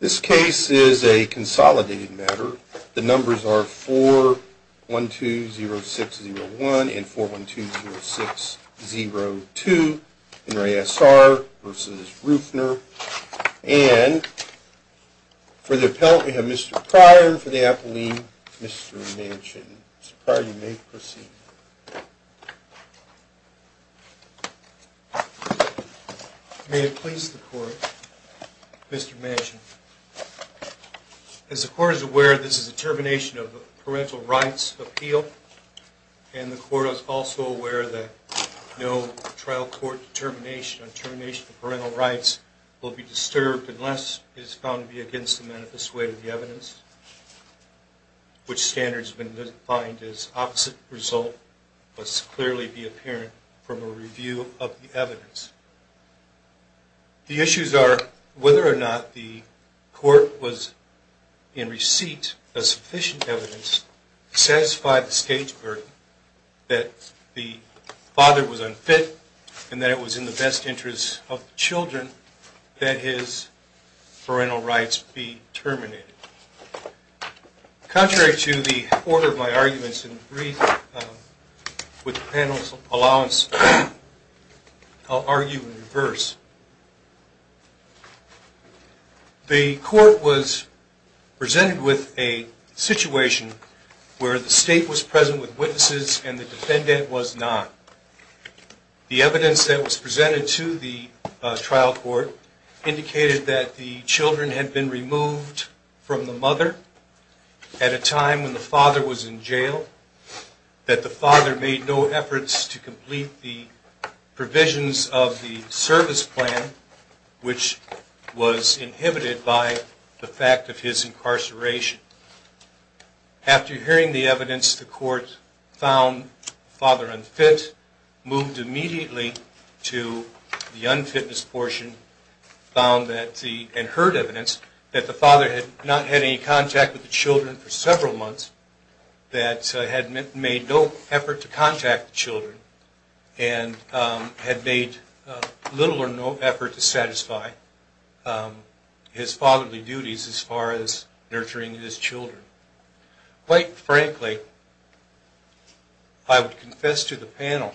This case is a consolidated matter. The numbers are 4-1-2-0-6-0-1 and 4-1-2-0-6-0-2, N.R.A.S.R. versus Rueffner, and for the appellant we have Mr. Pryor for the appellee, Mr. Manchin. Mr. Pryor, you may proceed. May it please the Court, Mr. Manchin. As the Court is aware, this is a termination of the parental rights appeal, and the Court is also aware that no trial court determination on termination of parental rights will be disturbed unless it is found to be against the manifest way of the evidence, which standards have been defined as opposite result. The Court must clearly be apparent from a review of the evidence. The issues are whether or not the Court was in receipt of sufficient evidence to satisfy the state's burden that the father was unfit and that it was in the best interest of the children that his parental rights be terminated. Contrary to the order of my arguments in brief, with the panel's allowance, I'll argue in reverse. The Court was presented with a situation where the state was present with witnesses and the defendant was not. The evidence that was presented to the trial court indicated that the children had been removed from the mother at a time when the father was in jail, that the father made no efforts to complete the provisions of the service plan, which was inhibited by the fact of his incarceration. After hearing the evidence, the Court found the father unfit, moved immediately to the unfitness portion, and heard evidence that the father had not had any contact with the children for several months, that had made no effort to contact the children, and had made little or no effort to satisfy his fatherly duties as far as nurturing his children. Quite frankly, I would confess to the panel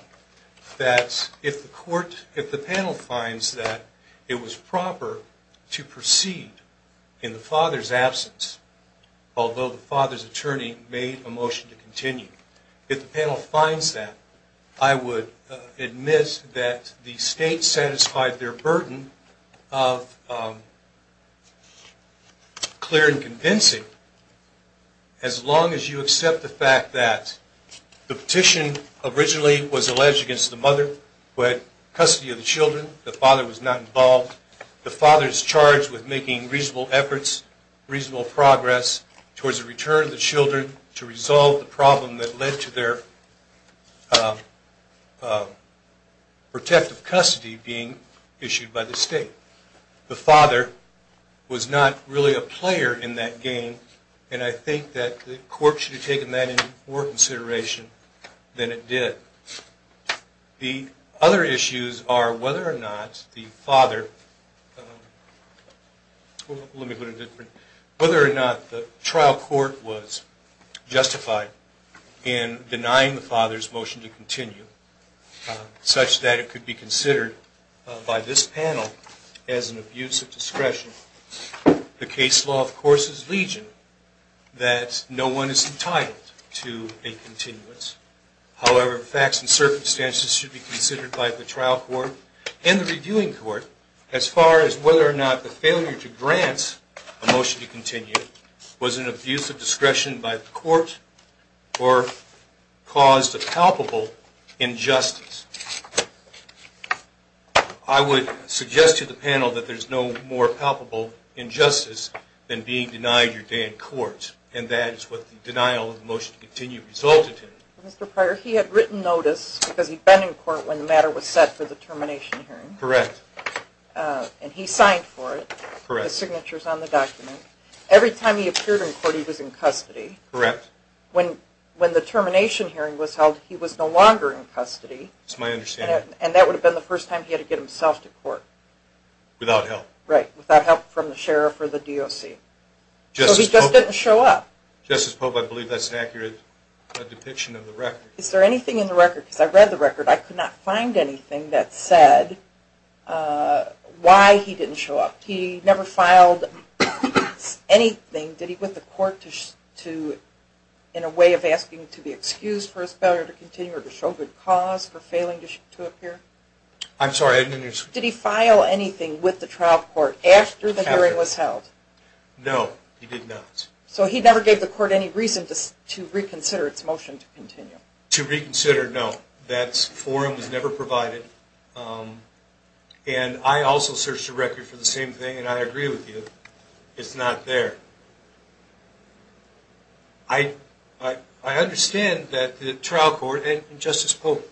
that if the panel finds that it was proper to proceed in the father's absence, although the father's attorney made a motion to continue, if the panel finds that, I would admit that the state satisfied their burden of clear and convincing, as long as you accept the fact that the petition originally was alleged against the mother who had custody of the children, the father was not involved, the father is charged with making reasonable efforts, reasonable progress towards the return of the children to resolve the problem that led to their protective custody being issued by the state. The father was not really a player in that game, and I think that the Court should have taken that into more consideration than it did. The other issues are whether or not the trial court was justified in denying the father's motion to continue, such that it could be considered by this panel as an abuse of discretion. The case law, of course, is legion that no one is entitled to a continuance. However, facts and circumstances should be considered by the trial court and the reviewing court as far as whether or not the failure to grant a motion to continue was an abuse of discretion by the court or caused a palpable injustice. I would suggest to the panel that there is no more palpable injustice than being denied your day in court, and that is what the denial of the motion to continue resulted in. Mr. Pryor, he had written notice because he'd been in court when the matter was set for the termination hearing. Correct. And he signed for it. Correct. The signature's on the document. Every time he appeared in court, he was in custody. Correct. When the termination hearing was held, he was no longer in custody. That's my understanding. And that would have been the first time he had to get himself to court. Without help. Right, without help from the sheriff or the DOC. So he just didn't show up. Justice Pope, I believe that's an accurate depiction of the record. Is there anything in the record, because I read the record, I could not find anything that said why he didn't show up. He never filed anything, did he, with the court, in a way of asking to be excused for his failure to continue or to show good cause for failing to appear? I'm sorry, I didn't understand. Did he file anything with the trial court after the hearing was held? No, he did not. So he never gave the court any reason to reconsider its motion to continue? To reconsider, no. That forum was never provided. And I also searched the record for the same thing, and I agree with you. It's not there. I understand that the trial court and Justice Pope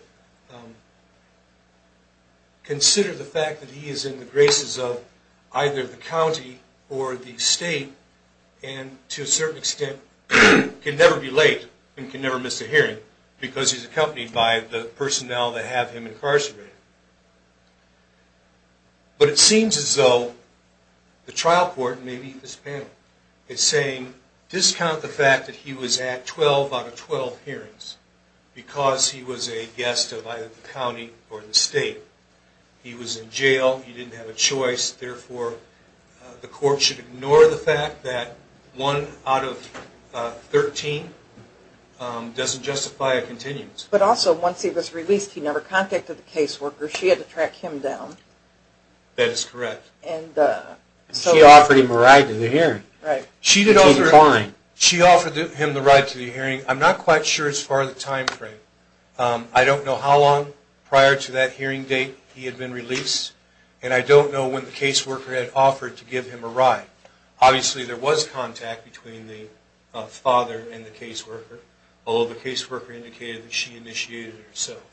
consider the fact that he is in the graces of either the county or the state, and to a certain extent can never be late and can never miss a hearing because he's accompanied by the personnel that have him incarcerated. But it seems as though the trial court, and maybe this panel, is saying discount the fact that he was at 12 out of 12 hearings because he was a guest of either the county or the state. He was in jail. He didn't have a choice. Therefore, the court should ignore the fact that 1 out of 13 doesn't justify a continuance. But also, once he was released, he never contacted the caseworker. She had to track him down. That is correct. She offered him a ride to the hearing. Right. She did offer him the ride to the hearing. I'm not quite sure as far as the time frame. I don't know how long prior to that hearing date he had been released, and I don't know when the caseworker had offered to give him a ride. Obviously, there was contact between the father and the caseworker, although the caseworker indicated that she initiated it herself.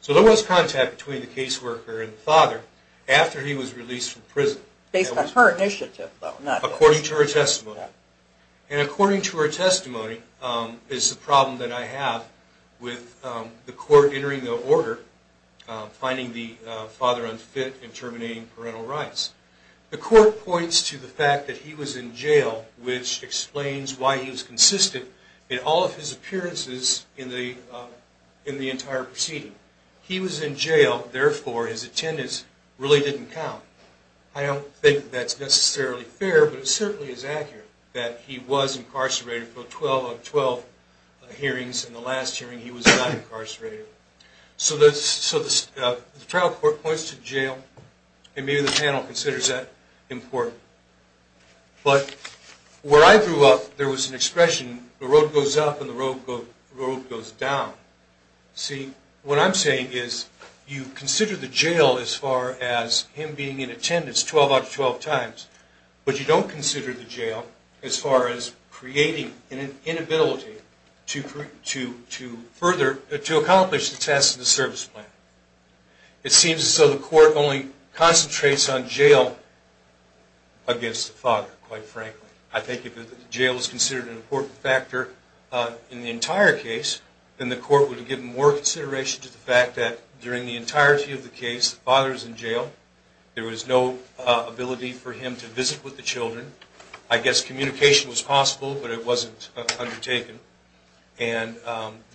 So there was contact between the caseworker and the father after he was released from prison. Based on her initiative, though. According to her testimony. And according to her testimony is the problem that I have with the court entering the order, finding the father unfit and terminating parental rights. The court points to the fact that he was in jail, which explains why he was consistent in all of his appearances in the entire proceeding. He was in jail, therefore his attendance really didn't count. I don't think that's necessarily fair, but it certainly is accurate that he was incarcerated for 12 of 12 hearings, and the last hearing he was not incarcerated. So the trial court points to jail, and maybe the panel considers that important. But where I grew up, there was an expression, the road goes up and the road goes down. See, what I'm saying is, you consider the jail as far as him being in attendance 12 out of 12 times, but you don't consider the jail as far as creating an inability to further, to accomplish the task of the service plan. It seems as though the court only concentrates on jail against the father, quite frankly. I think if the jail is considered an important factor in the entire case, then the court would have given more consideration to the fact that during the entirety of the case, the father is in jail, there was no ability for him to visit with the children. I guess communication was possible, but it wasn't undertaken, and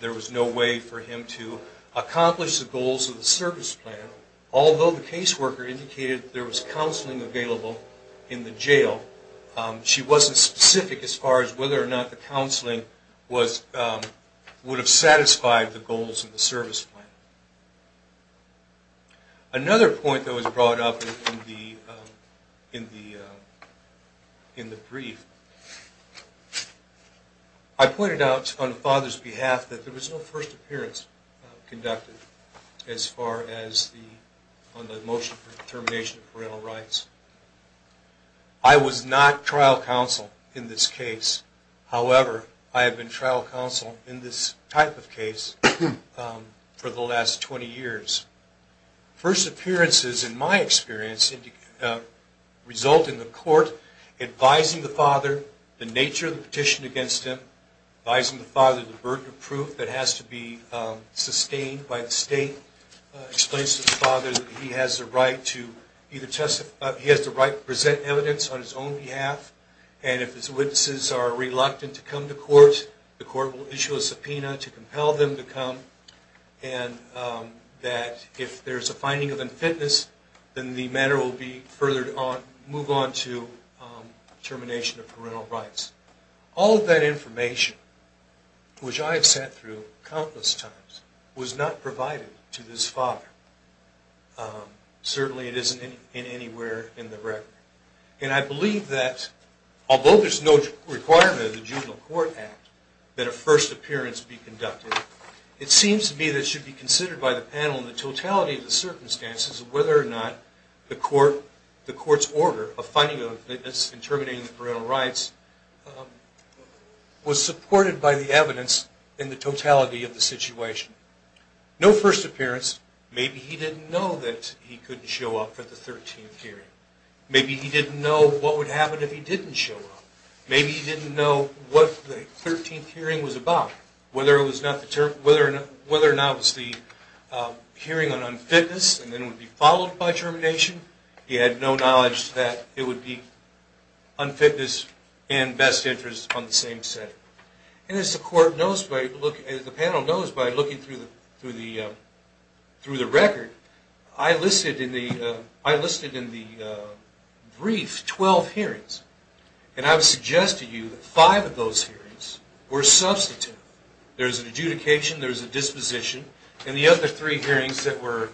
there was no way for him to accomplish the goals of the service plan. Although the caseworker indicated there was counseling available in the jail, she wasn't specific as far as whether or not the counseling would have satisfied the goals of the service plan. Another point that was brought up in the brief, I pointed out on the father's behalf that there was no first appearance conducted as far as the motion for termination of parental rights. I was not trial counsel in this case. However, I have been trial counsel in this type of case for the last 20 years. First appearances, in my experience, result in the court advising the father the nature of the petition against him, advising the father the burden of proof that has to be sustained by the state, explaining to the father that he has the right to present evidence on his own behalf, and if his witnesses are reluctant to come to court, the court will issue a subpoena to compel them to come, and that if there is a finding of unfitness, then the matter will move on to termination of parental rights. All of that information, which I have sat through countless times, was not provided to this father. Certainly it isn't anywhere in the record. And I believe that, although there's no requirement of the Juvenile Court Act that a first appearance be conducted, it seems to me that it should be considered by the panel in the totality of the circumstances whether or not the court's order of finding unfitness and terminating the parental rights was supported by the evidence in the totality of the situation. No first appearance. Maybe he didn't know that he couldn't show up for the 13th hearing. Maybe he didn't know what would happen if he didn't show up. Maybe he didn't know what the 13th hearing was about, whether or not it was the hearing on unfitness and then would be followed by termination. He had no knowledge that it would be unfitness and best interest on the same set. And as the panel knows by looking through the record, I listed in the brief 12 hearings, and I would suggest to you that five of those hearings were substantive. There was an adjudication, there was a disposition, and the other three hearings that were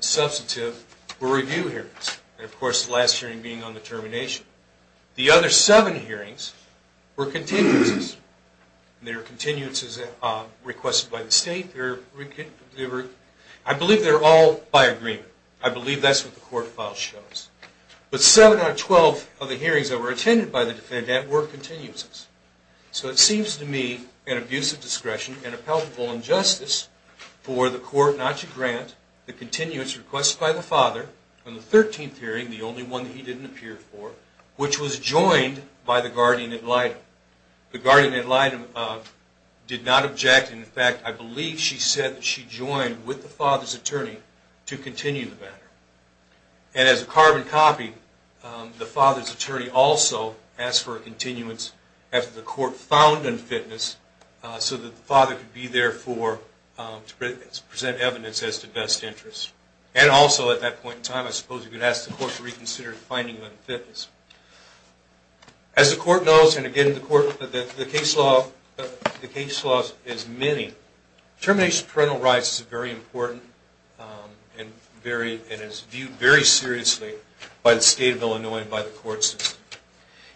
substantive were review hearings, and of course the last hearing being on the termination. The other seven hearings were continuances. They were continuances requested by the state. I believe they're all by agreement. I believe that's what the court file shows. But seven out of 12 of the hearings that were attended by the defendant were continuances. So it seems to me an abuse of discretion and a palpable injustice for the court not to grant the continuance requested by the father on the 13th hearing, the only one that he didn't appear for, which was joined by the guardian ad litem. The guardian ad litem did not object. In fact, I believe she said that she joined with the father's attorney to continue the matter. And as a carbon copy, the father's attorney also asked for a continuance after the court found unfitness so that the father could be there to present evidence as to best interest. And also at that point in time, I suppose you could ask the court to reconsider finding unfitness. As the court knows, and again the case law is many, termination of parental rights is very important and is viewed very seriously by the state of Illinois and by the court system.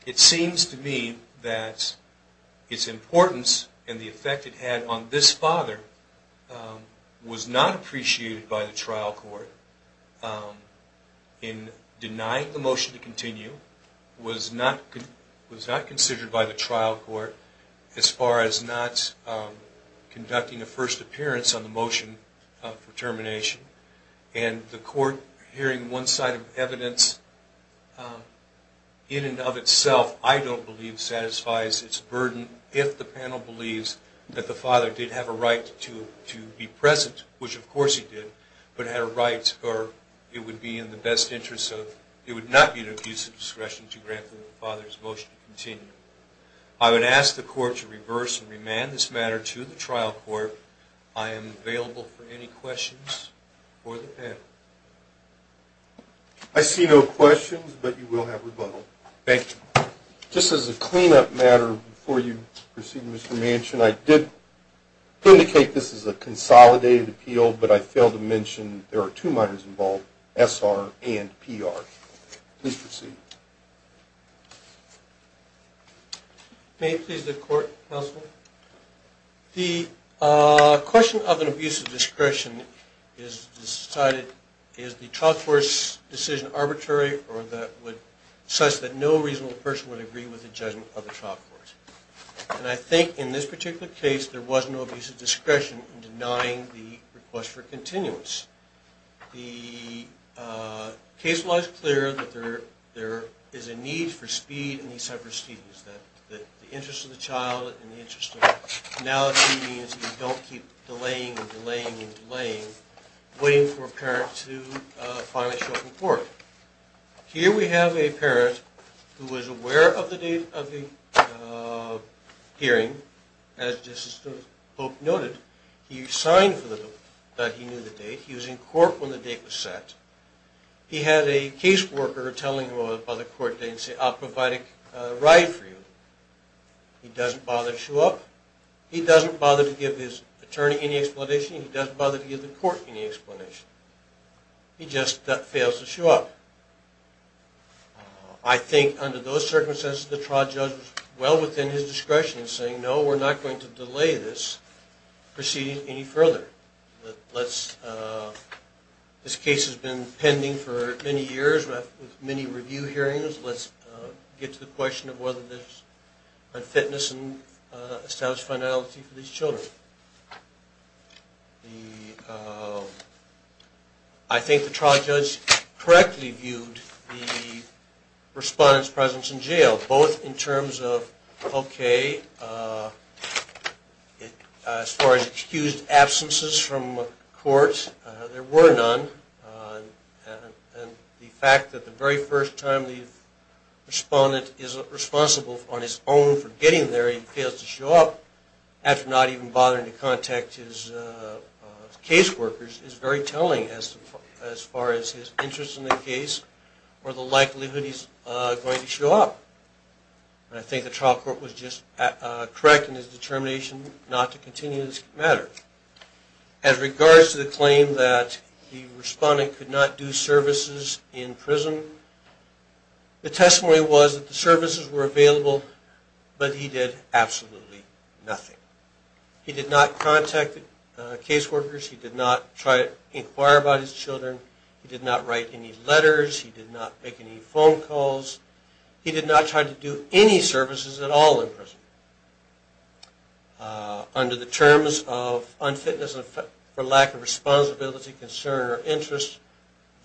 It seems to me that its importance and the effect it had on this father was not appreciated by the trial court. In denying the motion to continue was not considered by the trial court as far as not conducting a first appearance on the motion for termination. And the court hearing one side of evidence in and of itself, I don't believe satisfies its burden if the panel believes that the father did have a right to be present, which of course he did, but had a right or it would be in the best interest of, it would not be an abuse of discretion to grant the father's motion to continue. I would ask the court to reverse and remand this matter to the trial court. I am available for any questions for the panel. I see no questions, but you will have rebuttal. Thank you. Just as a cleanup matter before you proceed, Mr. Manchin, I did indicate this is a consolidated appeal, but I failed to mention there are two minors involved, S.R. and P.R. Please proceed. May it please the court, counsel? The question of an abuse of discretion is decided, is the trial court's decision arbitrary or such that no reasonable person would agree with the judgment of the trial court? And I think in this particular case there was no abuse of discretion in denying the request for continuance. The case law is clear that there is a need for speed in these type of proceedings, that the interest of the child and the interest of now the proceedings, you don't keep delaying and delaying and delaying, waiting for a parent to finally show up in court. Here we have a parent who was aware of the date of the hearing. As Justice Pope noted, he signed that he knew the date. He was in court when the date was set. He had a case worker telling him about the court date and say, I'll provide a ride for you. He doesn't bother to show up. He doesn't bother to give his attorney any explanation. He doesn't bother to give the court any explanation. He just fails to show up. I think under those circumstances the trial judge was well within his discretion in saying, no, we're not going to delay this proceeding any further. This case has been pending for many years with many review hearings. Let's get to the question of whether there's unfitness and established finality for these children. I think the trial judge correctly viewed the respondent's presence in jail both in terms of, okay, as far as excused absences from court, there were none, and the fact that the very first time the respondent is responsible on his own for getting there, he fails to show up after not even bothering to contact his case workers, is very telling as far as his interest in the case or the likelihood he's going to show up. And I think the trial court was just correct in his determination not to continue this matter. As regards to the claim that the respondent could not do services in prison, the testimony was that the services were available, but he did absolutely nothing. He did not contact case workers. He did not try to inquire about his children. He did not write any letters. He did not make any phone calls. He did not try to do any services at all in prison. Under the terms of unfitness for lack of responsibility, concern or interest,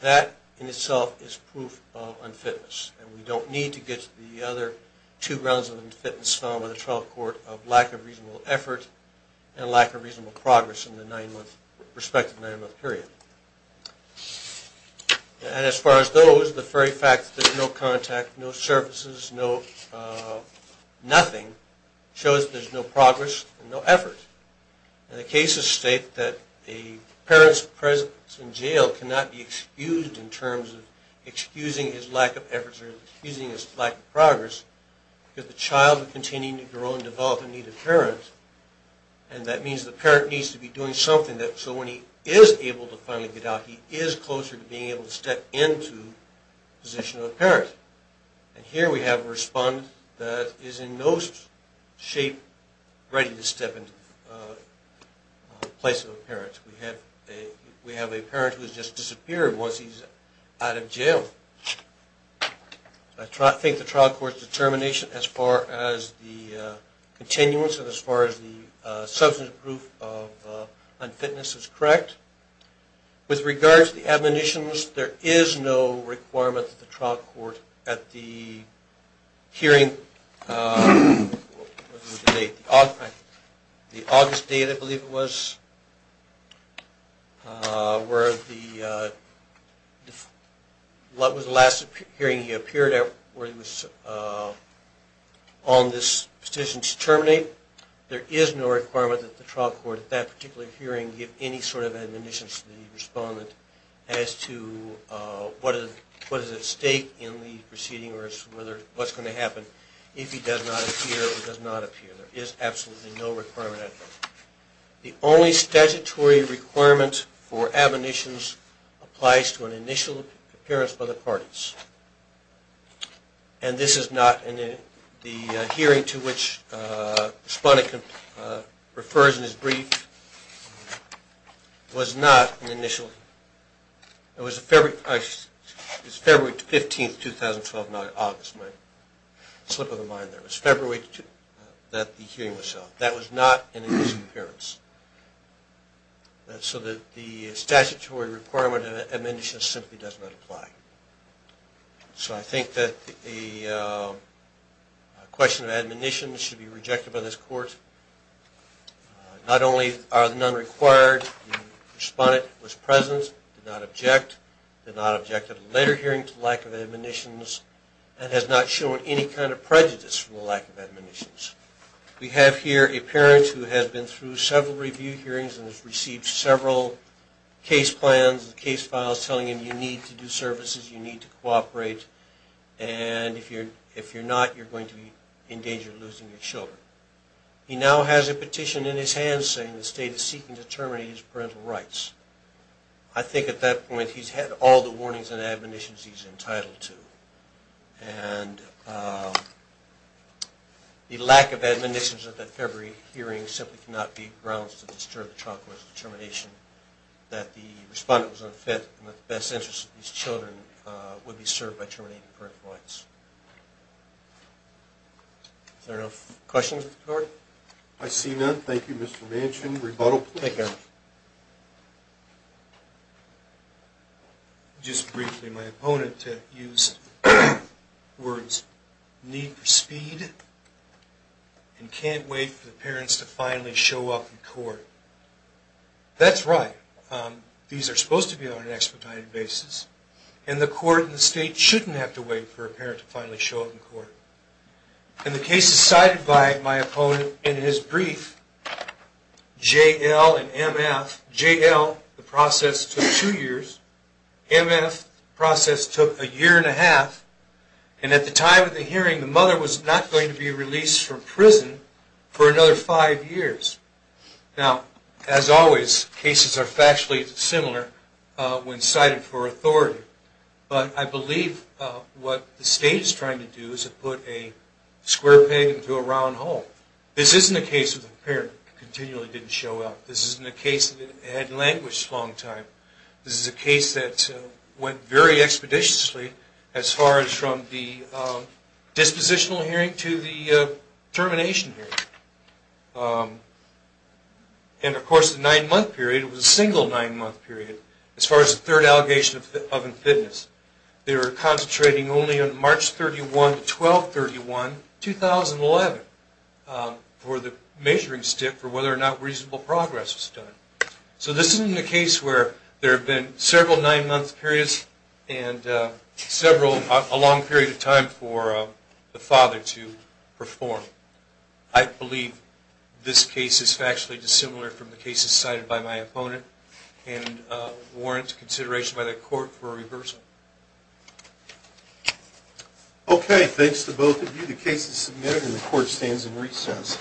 that in itself is proof of unfitness, and we don't need to get to the other two grounds of unfitness found by the trial court of lack of reasonable effort and lack of reasonable progress in the nine-month, respective nine-month period. And as far as those, the very fact that there's no contact, no services, no nothing, shows that there's no progress and no effort. And the cases state that a parent's presence in jail cannot be excused in terms of excusing his lack of efforts or excusing his lack of progress because the child is continuing to grow and develop in need of parents, and that means the parent needs to be doing something so when he is able to finally get out, he is closer to being able to step into the position of a parent. And here we have a respondent that is in no shape ready to step into the place of a parent. We have a parent who has just disappeared once he's out of jail. I think the trial court's determination as far as the continuance and as far as the substantive proof of unfitness is correct. With regard to the admonitions, there is no requirement that the trial court at the hearing, what was the date, the August date I believe it was, where the last hearing he appeared at where he was on this decision to terminate, there is no requirement that the trial court at that particular hearing give any sort of admonitions to the respondent as to what is at stake in the proceeding or what's going to happen if he does not appear or does not appear. There is absolutely no requirement at all. The only statutory requirement for admonitions applies to an initial appearance by the parties. And this is not, and the hearing to which the respondent refers in his brief was not an initial, it was February 15, 2012, not August, my slip of the mind there. It was February that the hearing was held. That was not an initial appearance. So the statutory requirement of admonitions simply does not apply. So I think that the question of admonitions should be rejected by this court. Not only are none required, the respondent was present, did not object, did not object at a later hearing to the lack of admonitions and has not shown any kind of prejudice for the lack of admonitions. We have here a parent who has been through several review hearings and has received several case plans, case files telling him you need to do services, you need to cooperate, and if you're not, you're going to be in danger of losing your children. He now has a petition in his hands saying the state is seeking to terminate his parental rights. I think at that point he's had all the warnings and admonitions he's entitled to. And the lack of admonitions at that February hearing simply cannot be grounds to disturb the child court's determination that the respondent was unfit and that the best interest of these children would be served by terminating parental rights. Is there no questions of the court? I see none. Thank you, Mr. Manchin. Rebuttal, please. Thank you, Your Honor. Just briefly, my opponent used words need for speed and can't wait for the parents to finally show up in court. That's right. These are supposed to be on an expedited basis. And the court in the state shouldn't have to wait for a parent to finally show up in court. And the case is cited by my opponent in his brief, JL and MF. JL, the process took two years. MF, the process took a year and a half. And at the time of the hearing, the mother was not going to be released from prison for another five years. Now, as always, cases are factually similar when cited for authority. But I believe what the state is trying to do is to put a square peg into a round hole. This isn't a case where the parent continually didn't show up. This isn't a case that had languished a long time. This is a case that went very expeditiously as far as from the dispositional hearing to the termination hearing. And, of course, the nine-month period was a single nine-month period. As far as the third allegation of unfitness, they were concentrating only on March 31 to 12-31, 2011, for the measuring stick for whether or not reasonable progress was done. So this isn't a case where there have been several nine-month periods and a long period of time for the father to perform. I believe this case is factually dissimilar from the cases cited by my opponent. And I warrant consideration by the court for a reversal. Okay, thanks to both of you. The case is submitted and the court stands in recess.